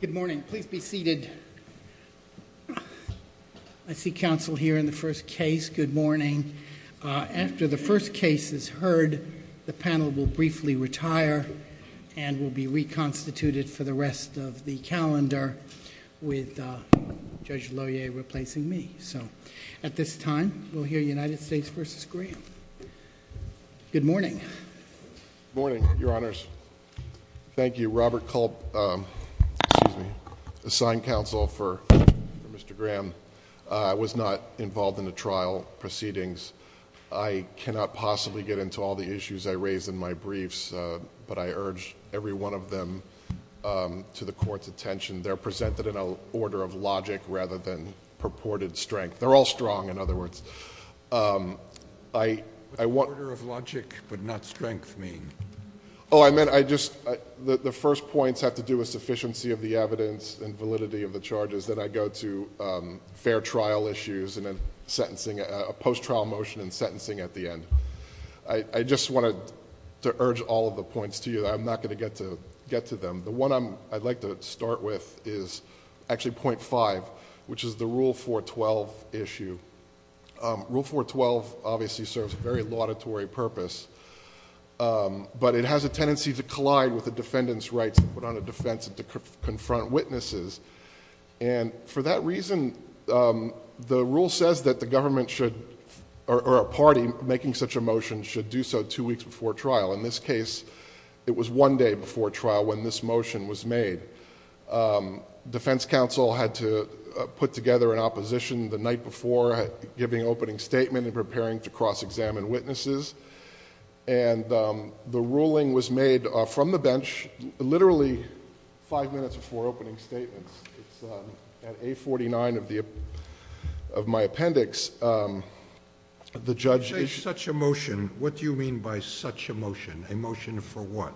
Good morning. Please be seated. I see counsel here in the first case. Good morning. After the first case is heard, the panel will briefly retire and will be reconstituted for the rest of the calendar with Judge Lohier replacing me. So at this time, we'll hear United States v. Graham. Good morning. Good morning, Your Honors. Thank you. Robert Culp assigned counsel for Mr. Graham. I was not involved in the trial proceedings. I cannot possibly get into all the issues I raised in my briefs, but I urge every one of them to the Court's attention. They're presented in an order of logic rather than purported strength. They're all strong, in other words. What does order of logic but not strength mean? The first points have to do with sufficiency of the evidence and validity of the charges. Then I go to fair trial issues and a post-trial motion and sentencing at the end. I just wanted to urge all of the points to you. I'm not going to get to them. The one I'd like to start with is actually point five, which is the Rule 412 issue. Rule 412 obviously serves a very laudatory purpose, but it has a tendency to collide with the defendant's rights to put on a defense and to confront witnesses. For that reason, the rule says that the government should... or a party making such a motion should do so two weeks before trial. In this case, it was one day before trial when this motion was made. Defense Council had to put together an opposition the night before, giving an opening statement and preparing to cross-examine witnesses. The ruling was made from the bench literally five minutes before opening statements. At A49 of my appendix, the judge... A motion for what?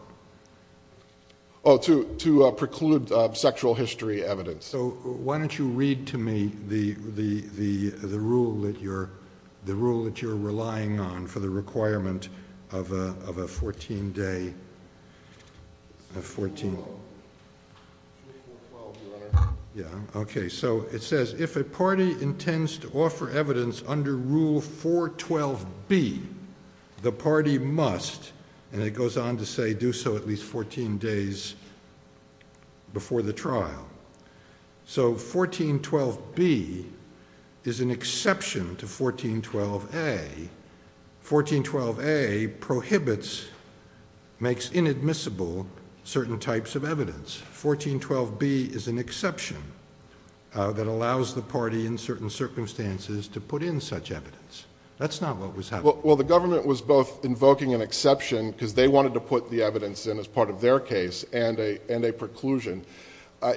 To preclude sexual history evidence. Why don't you read to me the rule that you're relying on for the requirement of a fourteen-day... Rule 412, Your Honor. So, 1412B is an exception to 1412A. 1412A prohibits... makes inadmissible certain types of evidence. 1412B is an exception that allows the party in certain circumstances to put in such evidence. That's not what was happening. Well, the government was both invoking an exception because they wanted to put the evidence in as part of their case and a preclusion.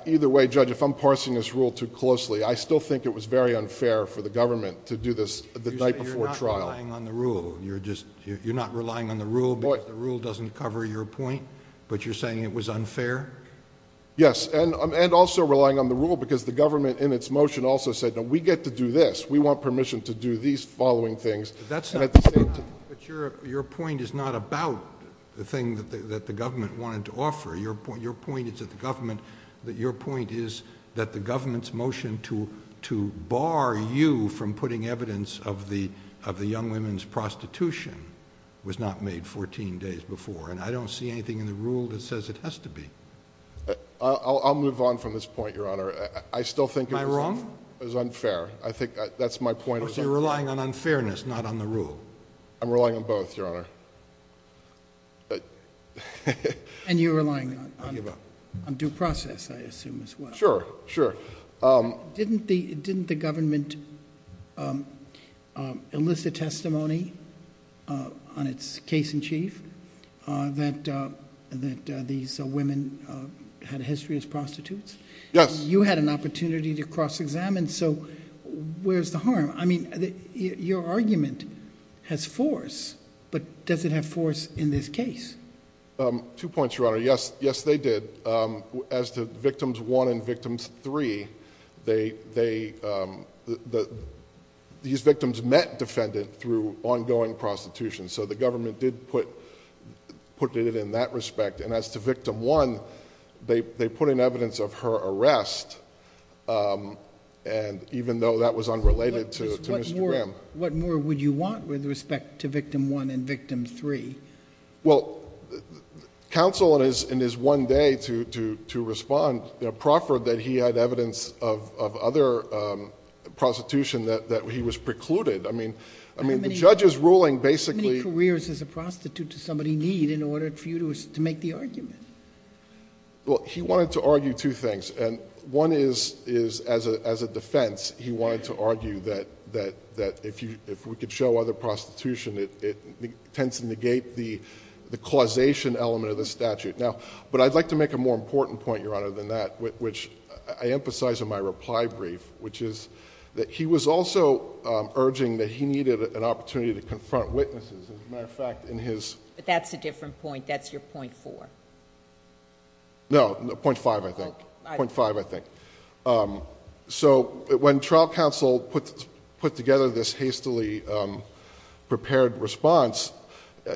Either way, Judge, if I'm parsing this rule too closely, I still think it was very unfair for the government to do this the night before trial. You're saying you're not relying on the rule. You're not relying on the rule because the rule doesn't cover your point, but you're saying it was unfair? Yes, and also relying on the rule because the government in its motion also said, no, we get to do this. We want permission to do these following things. That's not... Your point is not about the thing that the government wanted to offer. Your point is that the government's motion to bar you from putting evidence of the young women's prostitution was not made 14 days before. I don't see anything in the rule that says it has to be. I'll move on from this point, Your Honor. I still think... Am I wrong? It was unfair. I think that's my point. So you're relying on unfairness, not on the rule. I'm relying on both, Your Honor. And you're relying on due process, I assume, as well. Sure, sure. Didn't the government enlist a testimony on its case in chief that these women had a history as prostitutes? Yes. You had an opportunity to cross-examine, so where's the harm? I mean, your argument has force, but does it have force in this case? Two points, Your Honor. Yes, they did. As to Victims 1 and Victims 3, these victims met defendant through ongoing prostitution, so the government did put it in that respect. And as to Victim 1, they put in evidence of her arrest, even though that was unrelated to Mr. Graham. What more would you want with respect to Victim 1 and Victim 3? Well, counsel in his one day to respond proffered that he had evidence of other prostitution that he was precluded. I mean, the judge's ruling basically... How many careers does a prostitute to somebody need in order for you to make the argument? Well, he wanted to argue two things. And one is, as a defense, he wanted to argue that if we could show other prostitution, it tends to negate the causation element of the statute. But I'd like to make a more important point, Your Honor, than that, which I emphasize in my reply brief, which is that he was also urging that he needed an opportunity to confront witnesses. As a matter of fact, in his... But that's a different point. That's your .4. No, .5, I think. .5, I think. So when trial counsel put together this hastily prepared response,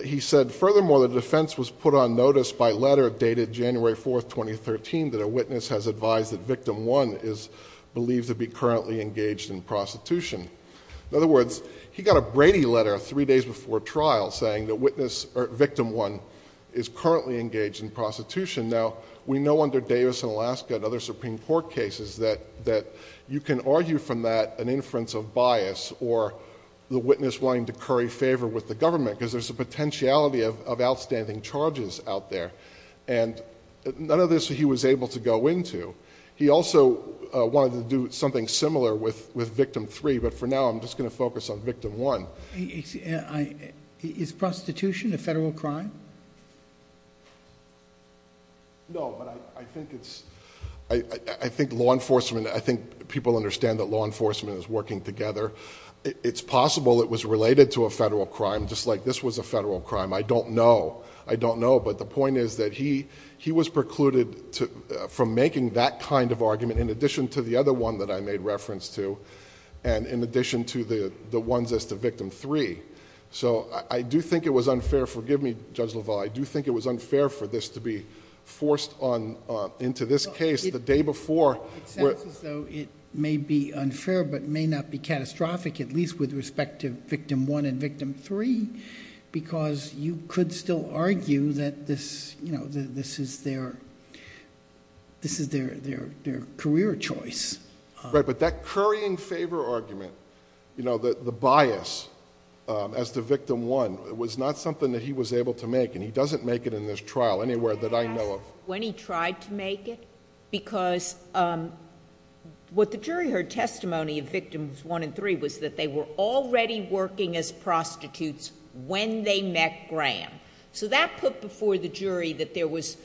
he said, Furthermore, the defense was put on notice by letter dated January 4, 2013, that a witness has advised that Victim 1 is believed to be currently engaged in prostitution. In other words, he got a Brady letter three days before trial saying that Victim 1 is currently engaged in prostitution. Now, we know under Davis and Alaska and other Supreme Court cases that you can argue from that an inference of bias or the witness wanting to curry favor with the government. Because there's a potentiality of outstanding charges out there. And none of this he was able to go into. He also wanted to do something similar with Victim 3, but for now I'm just going to focus on Victim 1. Is prostitution a federal crime? No, but I think it's... I think law enforcement... I think people understand that law enforcement is working together. It's possible it was related to a federal crime, just like this was a federal crime. I don't know. I don't know, but the point is that he was precluded from making that kind of argument in addition to the other one that I made reference to and in addition to the ones as to Victim 3. So I do think it was unfair. Forgive me, Judge LaValle. I do think it was unfair for this to be forced into this case the day before. It sounds as though it may be unfair but may not be catastrophic, at least with respect to Victim 1 and Victim 3, because you could still argue that this is their career choice. Right, but that currying favor argument, the bias as to Victim 1, was not something that he was able to make. And he doesn't make it in this trial anywhere that I know of. When he tried to make it, because what the jury heard testimony of Victims 1 and 3 was that they were already working as prostitutes when they met Graham. So that put before the jury that there was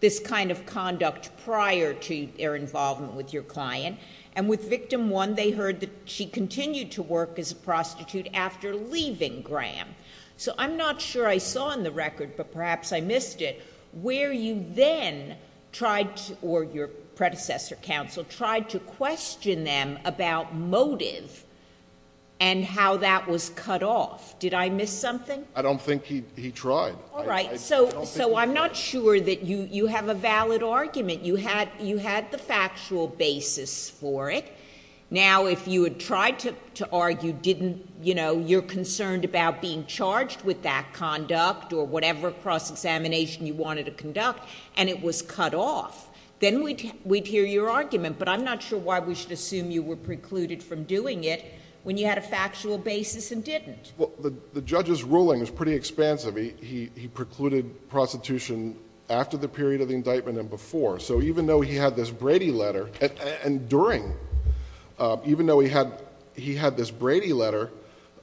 this kind of conduct prior to their involvement with your client. And with Victim 1, they heard that she continued to work as a prostitute after leaving Graham. So I'm not sure I saw in the record, but perhaps I missed it, where you then tried, or your predecessor counsel, tried to question them about motive and how that was cut off. Did I miss something? I don't think he tried. All right. So I'm not sure that you have a valid argument. You had the factual basis for it. Now, if you had tried to argue you're concerned about being charged with that conduct or whatever cross-examination you wanted to conduct, and it was cut off, then we'd hear your argument. But I'm not sure why we should assume you were precluded from doing it when you had a factual basis and didn't. Well, the judge's ruling is pretty expansive. He precluded prostitution after the period of the indictment and before. So even though he had this Brady letter, and during, even though he had this Brady letter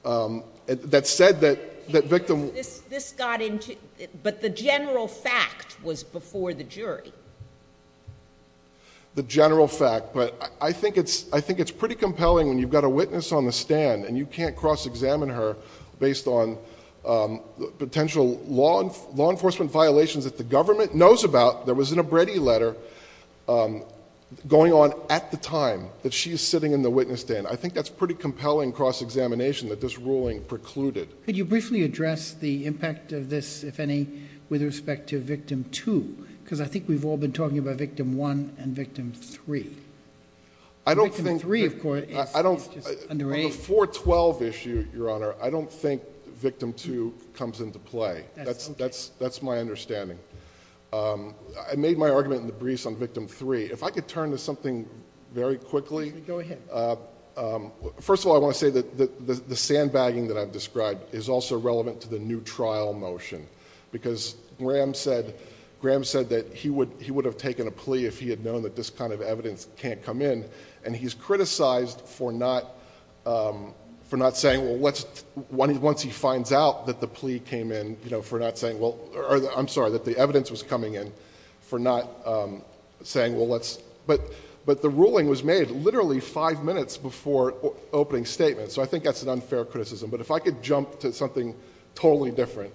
that said that Victim 1... This got into... but the general fact was before the jury. The general fact. But I think it's pretty compelling when you've got a witness on the stand and you can't cross-examine her based on potential law enforcement violations that the government knows about that was in a Brady letter going on at the time that she is sitting in the witness stand. I think that's pretty compelling cross-examination that this ruling precluded. Could you briefly address the impact of this, if any, with respect to Victim 2? Because I think we've all been talking about Victim 1 and Victim 3. I don't think... Victim 3, of course, is just underage. On the 412 issue, Your Honor, I don't think Victim 2 comes into play. That's my understanding. I made my argument in the briefs on Victim 3. If I could turn to something very quickly. Go ahead. First of all, I want to say that the sandbagging that I've described is also relevant to the new trial motion. Because Graham said that he would have taken a plea if he had known that this kind of evidence can't come in. He's criticized for not saying... Once he finds out that the plea came in, for not saying... I'm sorry, that the evidence was coming in, for not saying... But the ruling was made literally five minutes before opening statement. I think that's an unfair criticism. If I could jump to something totally different,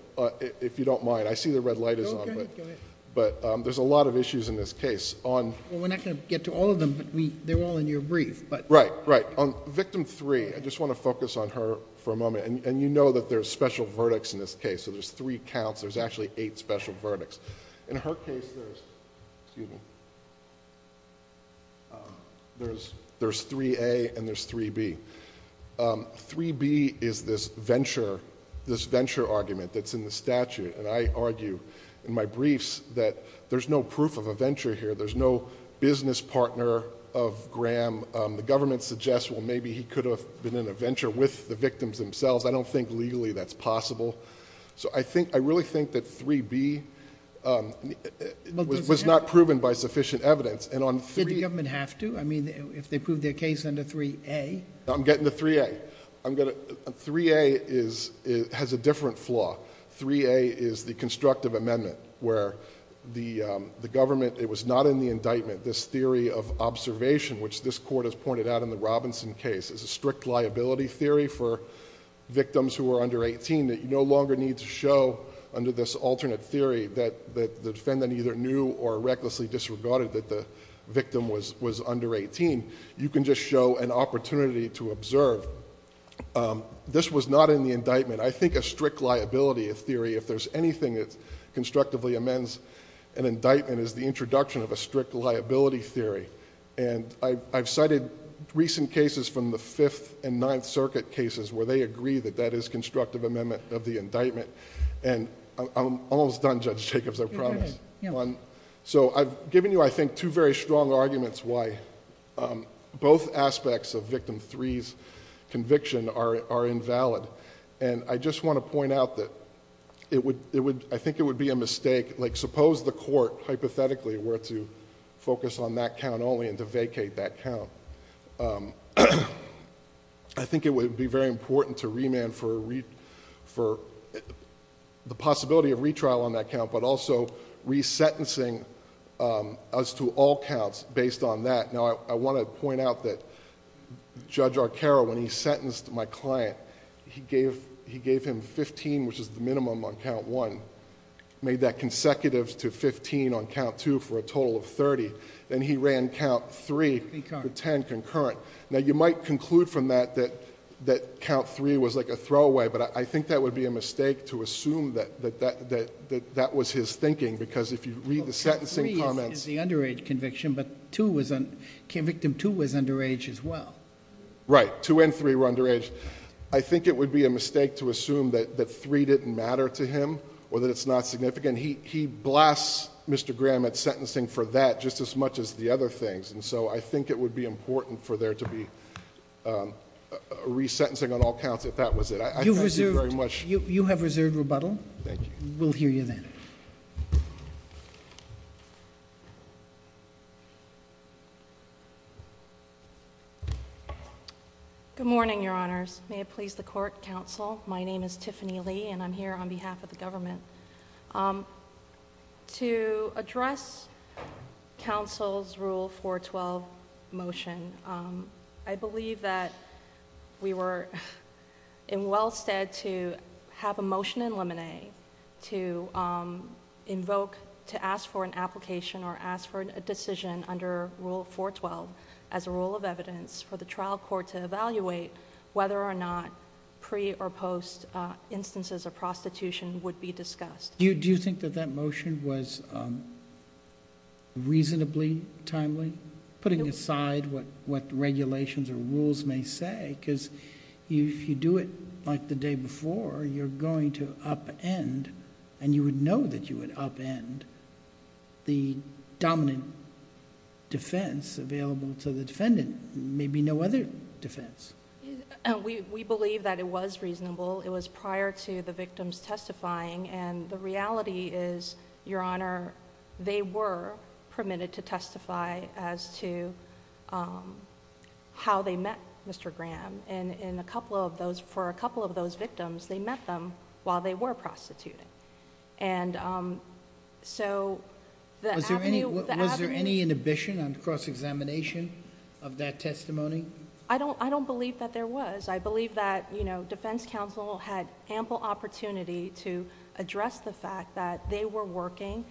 if you don't mind. I see the red light is on. Go ahead. There's a lot of issues in this case. We're not going to get to all of them, but they're all in your brief. Right. On Victim 3, I just want to focus on her for a moment. You know that there's special verdicts in this case. There's three counts. There's actually eight special verdicts. In her case, there's 3A and there's 3B. 3B is this venture argument that's in the statute. I argue in my briefs that there's no proof of a venture here. There's no business partner of Graham. The government suggests, well, maybe he could have been in a venture with the victims themselves. I don't think legally that's possible. I really think that 3B was not proven by sufficient evidence. Did the government have to? I mean, if they proved their case under 3A? I'm getting to 3A. 3A has a different flaw. 3A is the constructive amendment where the government... It was not in the indictment, this theory of observation, which this court has pointed out in the Robinson case, is a strict liability theory for victims who are under eighteen that you no longer need to show under this alternate theory that the defendant either knew or recklessly disregarded that the victim was under eighteen. You can just show an opportunity to observe. This was not in the indictment. I think a strict liability theory, if there's anything that constructively amends an indictment, is the introduction of a strict liability theory. I've cited recent cases from the Fifth and Ninth Circuit cases where they agree that that is constructive amendment of the indictment. I'm almost done, Judge Jacobs. I promise. I've given you, I think, two very strong arguments why both aspects of Victim 3's conviction are invalid. I just want to point out that I think it would be a mistake... Suppose the court, hypothetically, were to focus on that count only and to vacate that count. I think it would be very important to remand for the possibility of retrial on that count, but also resentencing as to all counts based on that. Now, I want to point out that Judge Arcaro, when he sentenced my client, he gave him fifteen, which is the minimum on count one, made that consecutive to fifteen on count two for a total of thirty. Then he ran count three for ten concurrent. Now, you might conclude from that that count three was like a throwaway, but I think that would be a mistake to assume that that was his thinking, because if you read the sentencing comments... Victim 2 was underage as well. Right. Two and three were underage. I think it would be a mistake to assume that three didn't matter to him or that it's not significant. He blasts Mr. Graham at sentencing for that just as much as the other things, and so I think it would be important for there to be resentencing on all counts if that was it. You have reserved rebuttal? Thank you. We'll hear you then. Good morning, Your Honors. May it please the Court, Counsel. My name is Tiffany Lee, and I'm here on behalf of the government. To address Counsel's Rule 412 motion, I believe that we were well-stead to have a motion in limine to invoke... or ask for a decision under Rule 412 as a rule of evidence for the trial court to evaluate whether or not pre or post instances of prostitution would be discussed. Do you think that that motion was reasonably timely, putting aside what regulations or rules may say? Because if you do it like the day before, you're going to upend, and you would know that you would upend the dominant defense available to the defendant, maybe no other defense. We believe that it was reasonable. It was prior to the victim's testifying, and the reality is, Your Honor, they were permitted to testify as to how they met Mr. Graham. For a couple of those victims, they met them while they were prostituting. Was there any inhibition on cross-examination of that testimony? I don't believe that there was. I believe that Defense Counsel had ample opportunity to address the fact that they were working,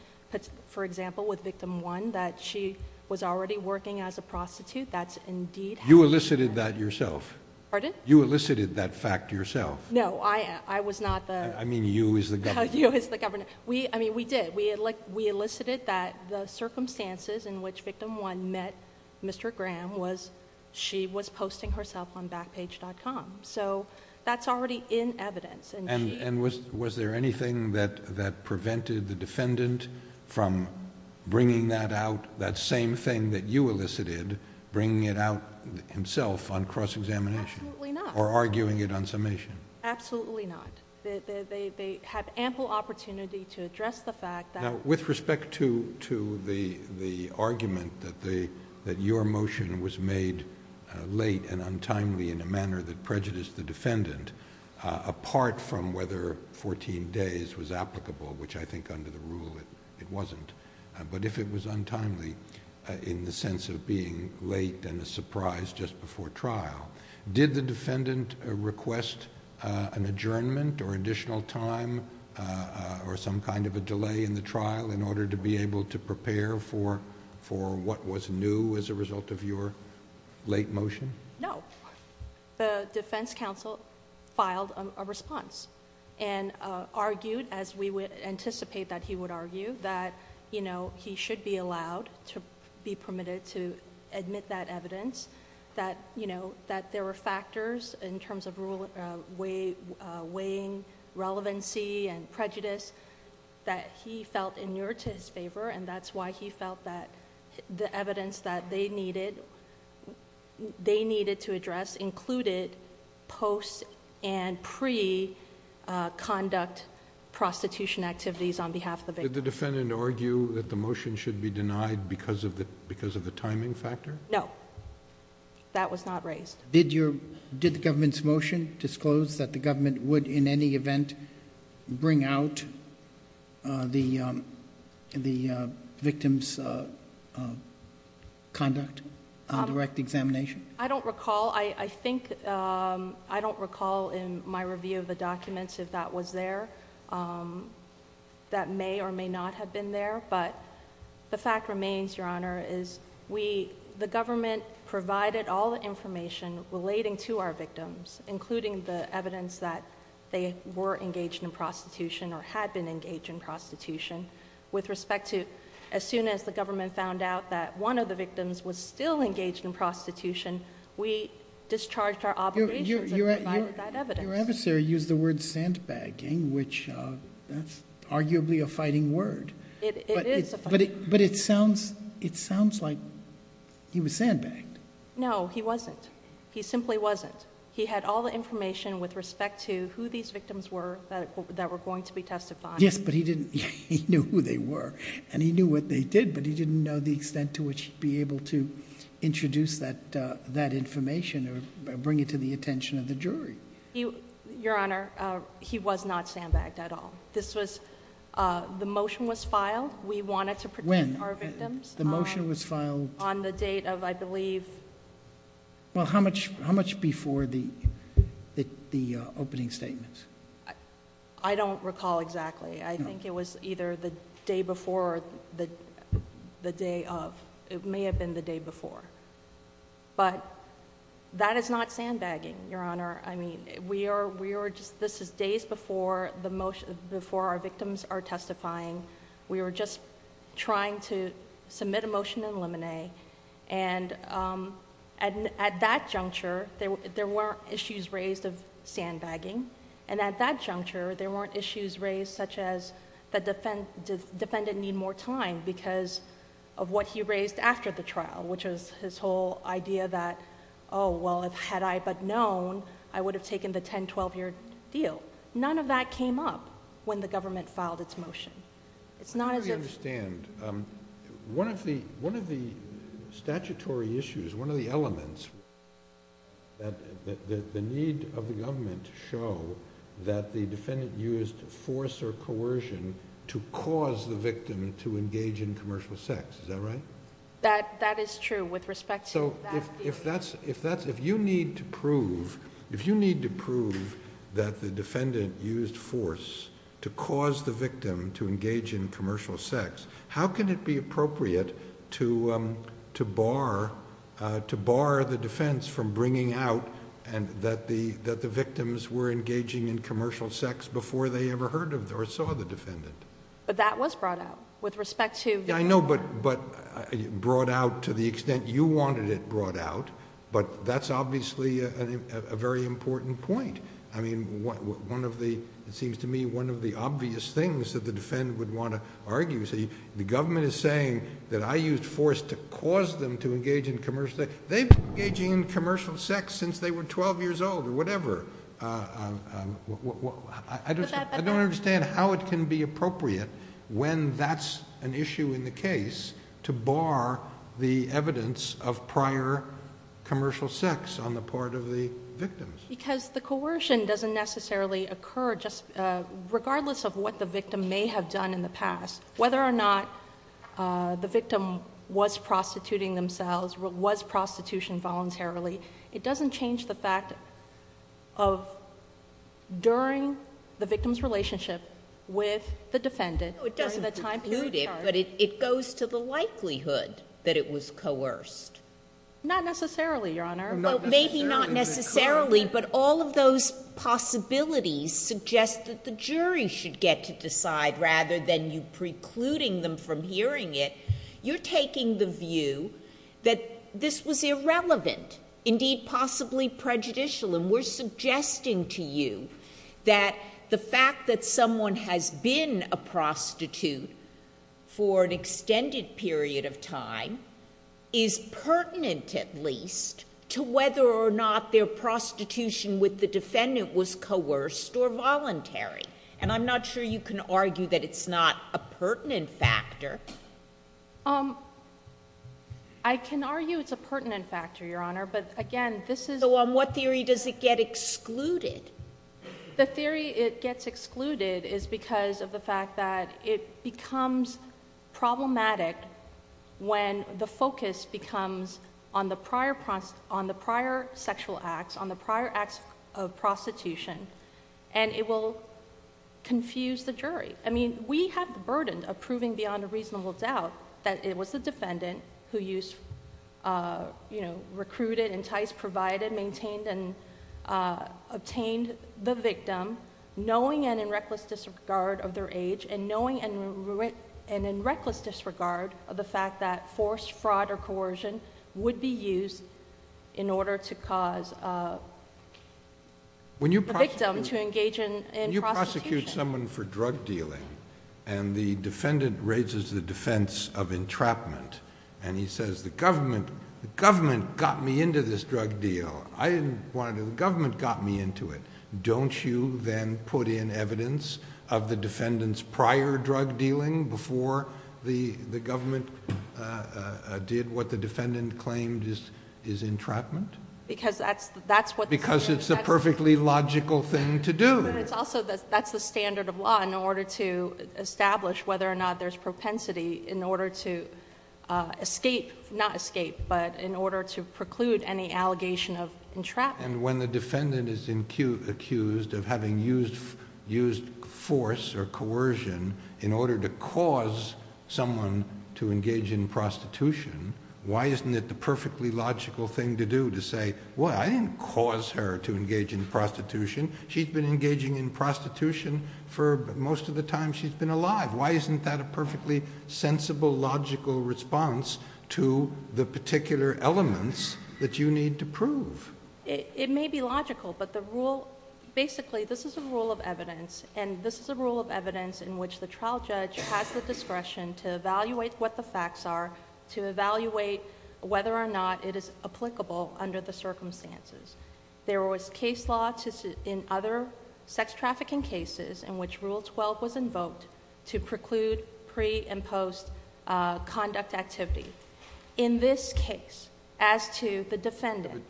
for example, with Victim 1, that she was already working as a prostitute. That's indeed how... You elicited that yourself? Pardon? You elicited that fact yourself? No. I was not the... I mean, you as the governor. You as the governor. We did. We elicited that the circumstances in which Victim 1 met Mr. Graham was she was posting herself on Backpage.com. That's already in evidence, and she... Was there anything that prevented the defendant from bringing that out, including that you elicited, bringing it out himself on cross-examination? Absolutely not. Or arguing it on summation? Absolutely not. They had ample opportunity to address the fact that... Now, with respect to the argument that your motion was made late and untimely in a manner that prejudiced the defendant, apart from whether fourteen days was applicable, which I think under the rule it wasn't, but if it was in the sense of being late and a surprise just before trial. Did the defendant request an adjournment or additional time or some kind of a delay in the trial in order to be able to prepare for what was new as a result of your late motion? No. The defense counsel filed a response and argued as we would anticipate that he would argue that he should be allowed to be permitted to admit that evidence, that there were factors in terms of weighing relevancy and prejudice that he felt inured to his favor, and that's why he felt that the evidence that they needed to address included post- and pre-conduct prostitution activities on behalf of the victim. Did the defendant argue that the motion should be denied because of the timing factor? No. That was not raised. Did the government's motion disclose that the government would in any event bring out the victim's conduct on direct examination? I don't recall. I don't recall in my review of the documents if that was there. That may or may not have been there, but the fact remains, Your Honor, is the government provided all the information relating to our victims, including the evidence that they were engaged in prostitution or had been engaged in prostitution. With respect to as soon as the government found out that one of the victims was still there, they discharged our obligations and provided that evidence. Your adversary used the word sandbagging, which is arguably a fighting word. It is a fighting word. But it sounds like he was sandbagged. No, he wasn't. He simply wasn't. He had all the information with respect to who these victims were that were going to be testified. Yes, but he didn't know who they were, and he knew what they did, but he didn't know the extent to which he'd be able to introduce that information or bring it to the attention of the jury. Your Honor, he was not sandbagged at all. This was... The motion was filed. We wanted to protect our victims. When? The motion was filed... On the date of, I believe... Well, how much before the opening statements? I don't recall exactly. No. I think it was either the day before or the day of. It may have been the day before, but that is not sandbagging, Your Honor. I mean, this is days before our victims are testifying. We were just trying to submit a motion in limine. At that juncture, there were issues raised of sandbagging, and at that juncture, there was a motion that the defendant need more time because of what he raised after the trial, which was his whole idea that, oh, well, had I but known, I would have taken the ten, twelve-year deal. None of that came up when the government filed its motion. It's not as if... I don't really understand. One of the statutory issues, one of the elements that the need of the government to show that the defendant used force or coercion to cause the victim to engage in commercial sex. Is that right? That is true with respect to that deal. If you need to prove that the defendant used force to cause the victim to engage in commercial sex, how can it be appropriate to bar the defense from bringing out that the victims were engaging in commercial sex before they ever heard or saw the defendant? But that was brought out with respect to... Yeah, I know, but brought out to the extent you wanted it brought out, but that's obviously a very important point. It seems to me one of the obvious things that the defendant would want to argue. The government is saying that I used force to cause them to engage in commercial sex. They've been engaging in commercial sex since they were twelve years old or whatever. I don't understand how it can be appropriate when that's an issue in the case to bar the evidence of prior commercial sex on the part of the victims. Because the coercion doesn't necessarily occur just regardless of what the victim may have done in the past. Whether or not the victim was prostituting themselves, was prostitution voluntarily, it doesn't change the fact of during the victim's relationship with the defendant... It doesn't include it, but it goes to the likelihood that it was coerced. Not necessarily, Your Honor. Maybe not necessarily, but all of those possibilities suggest that the jury should get to decide rather than you precluding them from hearing it. You're taking the view that this was irrelevant, indeed possibly prejudicial. We're suggesting to you that the fact that someone has been a prostitute for an extended period of time is pertinent at least to whether or not their prostitution with the defendant was coerced or voluntary. And I'm not sure you can argue that it's not a pertinent factor. I can argue it's a pertinent factor, Your Honor, but again this is... So on what theory does it get excluded? The theory it gets excluded is because of the fact that it becomes problematic when the focus becomes on the prior sexual acts, on the prior acts of prostitution, and it will confuse the jury. We have the burden of proving beyond a reasonable doubt that it was the defendant who recruited, enticed, provided, maintained, and obtained the victim, knowing and in reckless disregard of their age, and knowing and in reckless disregard of the fact that forced fraud or coercion would be used in order to cause a victim to engage in prostitution. When you prosecute someone for drug dealing and the defendant raises the defense of entrapment and he says, the government got me into this drug deal. I didn't want to do it. The government got me into it. Don't you then put in evidence of the defendant's prior drug dealing before the government did what the defendant claimed is entrapment? Because that's what... Because it's a perfectly logical thing to do. That's the standard of law in order to establish whether or not there's propensity in order to escape... not escape, but in order to preclude any allegation of entrapment. When the defendant is accused of having used force or coercion in order to cause someone to engage in prostitution, why isn't it the perfectly logical thing to do to say, well, I didn't cause her to engage in prostitution. She's been engaging in prostitution for most of the time she's been alive. Why isn't that a perfectly sensible, logical response to the particular elements that you need to prove? It may be logical, but the rule... Basically, this is a rule of evidence, and this is a rule of evidence in which the trial judge has the discretion to evaluate what the facts are, to evaluate whether or not it is applicable under the circumstances. There was case law in other sex trafficking cases in which Rule 12 was invoked to preclude pre and post conduct activity. In this case, as to the defendant,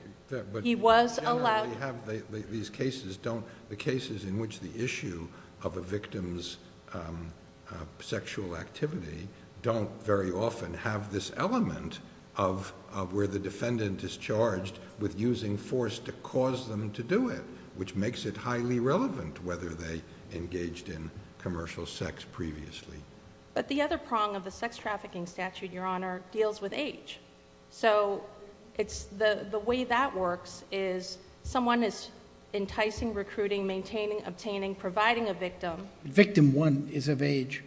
he was allowed... He was allowed to engage in prostitution, So, the fact that he was allowed to engage in sexual activity in the context of a victim's sexual activity don't very often have this element of where the defendant is charged with using force to cause them to do it, which makes it highly relevant, whether they engaged in commercial sex previously. But the other prong of the sex trafficking statute, Your Honor, deals with age. So, the way that works is someone is enticing, recruiting, maintaining, obtaining, providing a victim... Victim one is of age.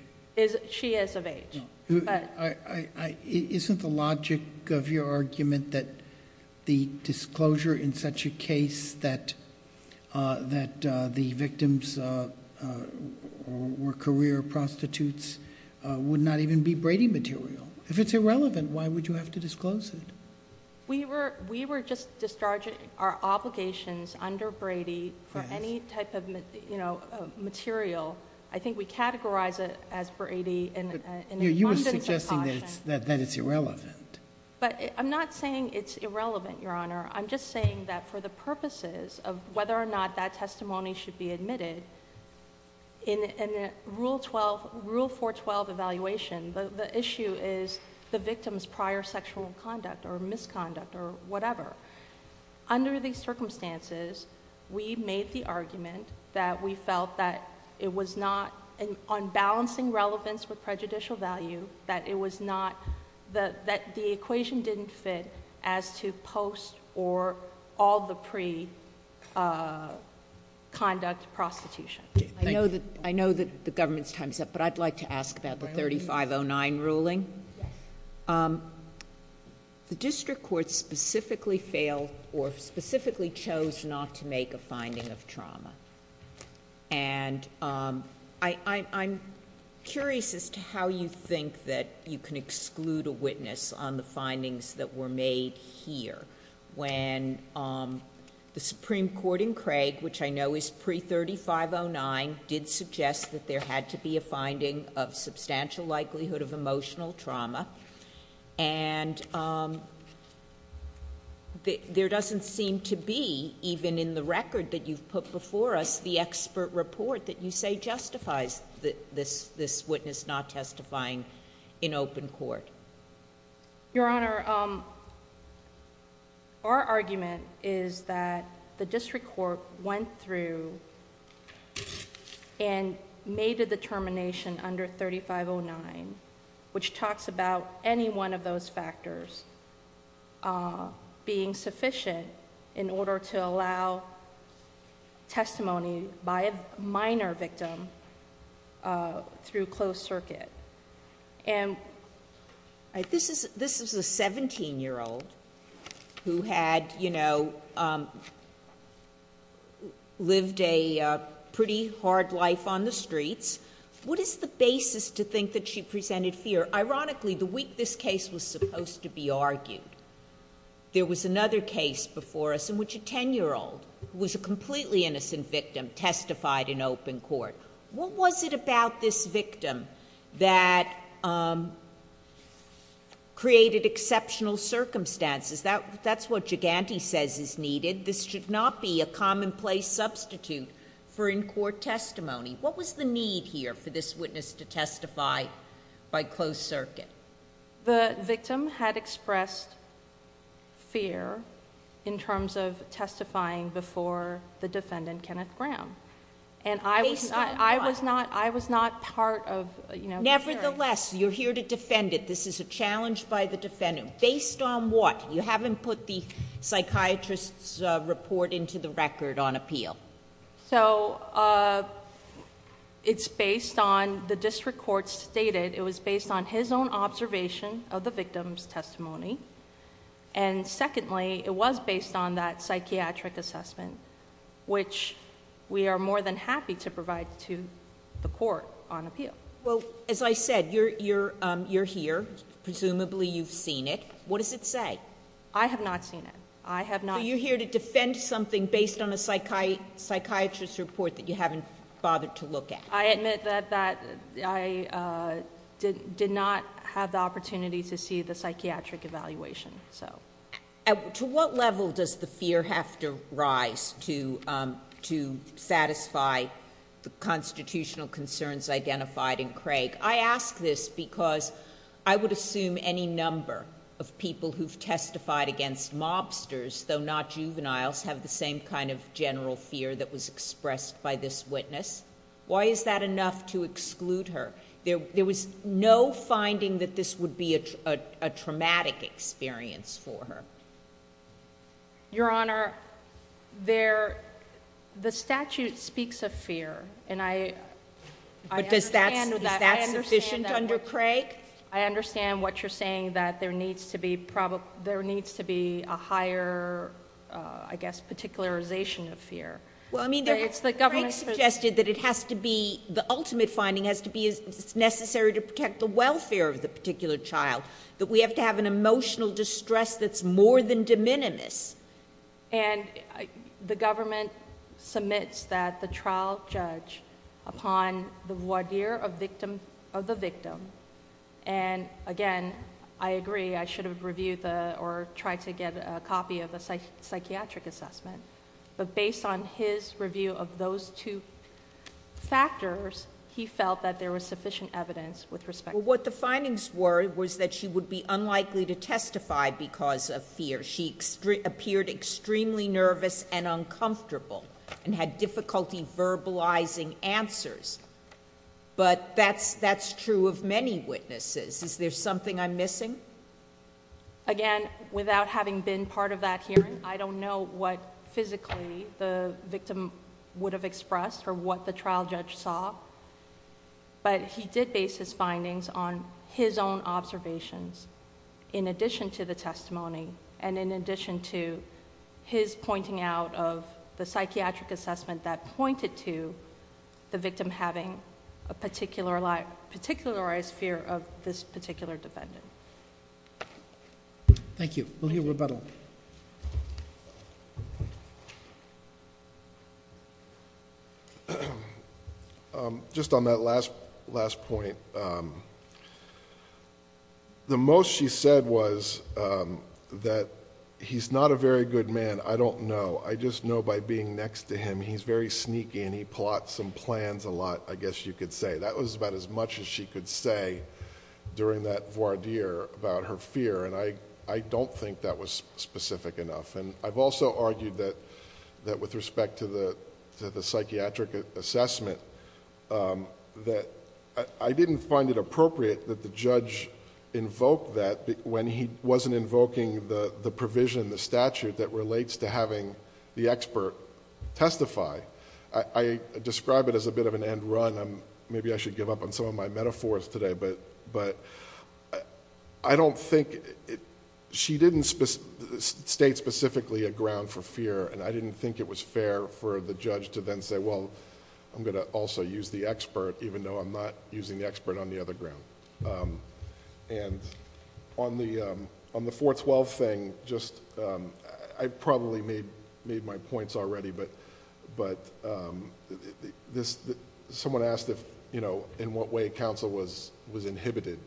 She is of age. Isn't the logic of your argument that the disclosure in such a case that the victims were career prostitutes would not even be Brady material? If it's irrelevant, why would you have to disclose it? We were just discharging our obligations under Brady for any type of material. I think we categorize it as Brady. You were suggesting that it's irrelevant. I'm not saying it's irrelevant, Your Honor. I'm just saying that for the purposes of whether or not that testimony should be admitted, in Rule 412 evaluation, the issue is the victim's prior sexual conduct or misconduct or whatever. Under these circumstances, we made the argument that we felt that it was not... on balancing relevance with prejudicial value, that it was not... that the equation didn't fit as to post or all the pre-conduct prostitution. I know that the government's time is up, but I'd like to ask about the 3509 ruling. Yes. The district court specifically failed or specifically chose not to make a finding of trauma. I'm curious as to how you think that you can exclude a witness on the findings that were made here when the Supreme Court in Craig, which I know is pre-3509, did suggest that there had to be a finding of substantial likelihood of emotional trauma. And there doesn't seem to be, even in the record that you've put before us, the expert report that you say justifies this witness not testifying in open court. Your Honor, our argument is that the district court went through and made a determination under 3509 which talks about any one of those factors being sufficient in order to allow testimony by a minor victim through closed circuit. And... This is a 17-year-old who had, you know, lived a pretty hard life on the streets. What is the basis to think that she presented fear? Ironically, the week this case was supposed to be argued, there was another case before us in which a 10-year-old who was a completely innocent victim testified in open court. What was it about this victim that created exceptional circumstances? That's what Giganti says is needed. This should not be a commonplace substitute for in-court testimony. What was the need here for this witness to testify by closed circuit? The victim had expressed fear in terms of testifying before the defendant, Kenneth Graham. And I was not part of... Nevertheless, you're here to defend it. This is a challenge by the defendant. Based on what? You haven't put the psychiatrist's report into the record on appeal. So, it's based on... The district court stated it was based on his own observation of the victim's testimony. And secondly, it was based on that psychiatric assessment, which we are more than happy to provide to the court on appeal. Well, as I said, you're here. Presumably, you've seen it. What does it say? I have not seen it. I have not... So, you're here to defend something based on a psychiatrist's report that you haven't bothered to look at. I admit that I did not have the opportunity to see the psychiatric evaluation. To what level does the fear have to rise to satisfy the constitutional concerns identified in Craig? I ask this because I would assume any number of people who've testified against mobsters, though not juveniles, have the same kind of general fear that was expressed by this witness. Why is that enough to exclude her? There was no finding that this would be a traumatic experience for her. Your Honor, the statute speaks of fear. And I... But is that sufficient under Craig? I understand what you're saying, that there needs to be a higher, I guess, particularization of fear. Craig suggested that it has to be... The ultimate finding has to be it's necessary to protect the welfare of the particular child, that we have to have an emotional distress that's more than de minimis. And the government submits that the trial judge, upon the voir dire of the victim... And again, I agree. I should have reviewed or tried to get a copy of the psychiatric assessment. But based on his review of those two factors, he felt that there was sufficient evidence with respect to... What the findings were was that she would be unlikely to testify because of fear. She appeared extremely nervous and uncomfortable and had difficulty verbalizing answers. But that's true of many witnesses. Is there something I'm missing? Again, without having been part of that hearing, I don't know what physically the victim would have expressed or what the trial judge saw. But he did base his findings on his own observations in addition to the testimony and in addition to his pointing out of the psychiatric assessment that pointed to the victim having a particularized fear of this particular defendant. Thank you. We'll hear rebuttal. Just on that last point, the most she said was that he's not a very good man. I don't know. I just know by being next to him, he's very sneaky and he plots some plans a lot, I guess you could say. That was about as much as she could say during that voir dire about her fear. I don't think that was specific enough. I've also argued that with respect to the psychiatric assessment, that I didn't find it appropriate that the judge invoked that when he wasn't invoking the provision, the statute that relates to having the expert testify. I describe it as a bit of an end run. Maybe I should give up on some of my metaphors today, but I don't think... She didn't state specifically a ground for fear and I didn't think it was fair for the judge to then say, well, I'm going to also use the expert even though I'm not using the expert on the other ground. On the 412 thing, I probably made my points already, but someone asked in what way counsel was inhibited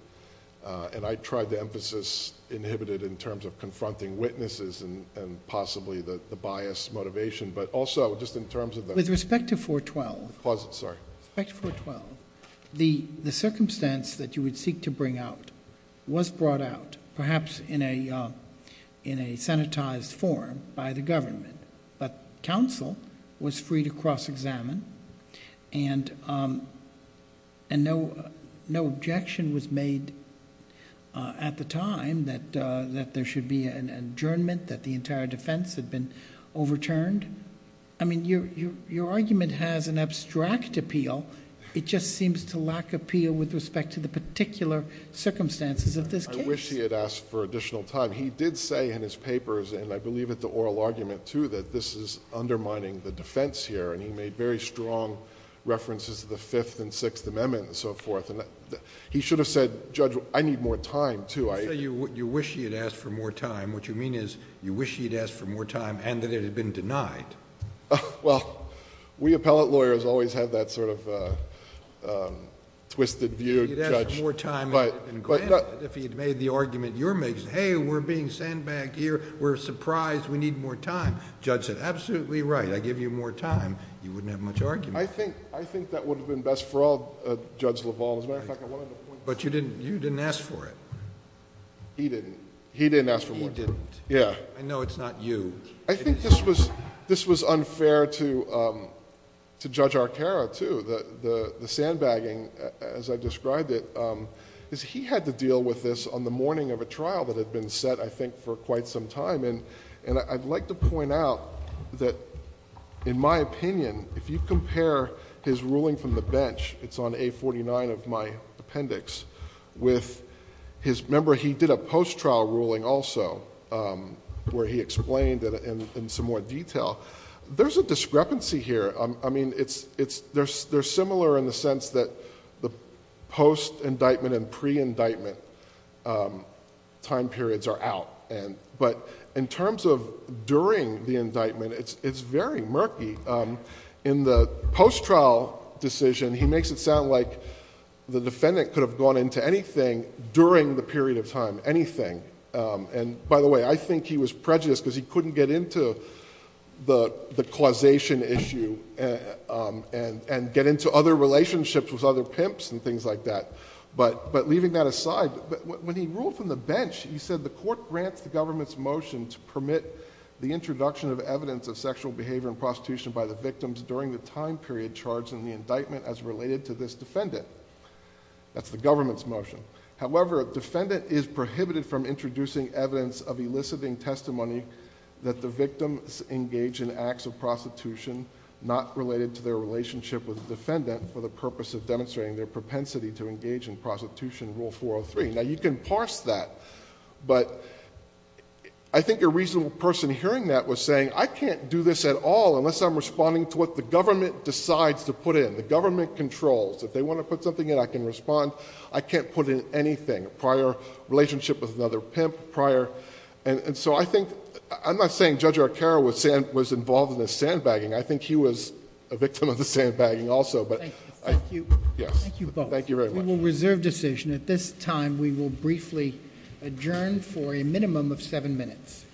and I tried to emphasis inhibited in terms of confronting witnesses and possibly the bias motivation, but also just in terms of the... With respect to 412... Pause it, sorry. With respect to 412, the circumstance that you would seek to bring out was brought out perhaps in a sanitized form by the government, but counsel was free to cross-examine and no objection was made at the time that there should be an adjournment that the entire defense had been overturned. Your argument has an abstract appeal. It just seems to lack appeal with respect to the particular circumstances of this case. I wish he had asked for additional time. He did say in his papers and I believe at the oral argument too that this is undermining the defense here and he made very strong references to the Fifth and Sixth Amendments and so forth. He should have said, Judge, I need more time too. You say you wish he had asked for more time. What you mean is you wish he had asked for more time and that it had been denied. Well, we appellate lawyers always have that sort of twisted view. He'd ask for more time if he had made the argument you're making. Hey, we're being sandbagged here. We're surprised. We need more time. Judge said, absolutely right. I give you more time. You wouldn't have much argument. I think that would have been best for all Judge LaValle. But you didn't ask for it. He didn't. He didn't ask for more time. He didn't. I know it's not you. I think this was unfair to Judge Arcaro too. The sandbagging, as I described it, is he had to deal with this on the morning of a trial that had been set I think for quite some time. And I'd like to point out that in my opinion if you compare his ruling from the bench it's on A49 of my appendix with his, remember he did a post-trial ruling also where he explained in some more detail. There's a discrepancy here. I mean, they're similar in the sense that the post-indictment and pre-indictment time periods are out. But in terms of during the indictment it's very murky. In the post-trial decision he makes it sound like the defendant could have gone into anything during the period of time. Anything. And by the way, I think he was prejudiced because he couldn't get into the causation issue and get into other relationships with other pimps and things like that. But leaving that aside, when he ruled from the bench he said the court grants the government's motion to permit the introduction of evidence of sexual behavior and prostitution by the victims during the time period charged in the indictment as related to this defendant. That's the government's motion. However, a defendant is prohibited from introducing evidence of eliciting testimony that the victims engage in acts of prostitution not related to their relationship with the defendant for the purpose of demonstrating their propensity to engage in prostitution Rule 403. Now you can parse that but I think a reasonable person hearing that was saying I can't do this at all unless I'm responding to what the government decides to put in. The government controls. If they want to put something in I can respond. I can't put in anything. Prior relationship with another pimp prior... And so I think I'm not saying Judge Arcaro was involved in the sandbagging. I think he was a victim of the sandbagging also. Thank you. Thank you both. We will reserve decision. At this time we will briefly adjourn for a minimum of seven minutes. Thank you.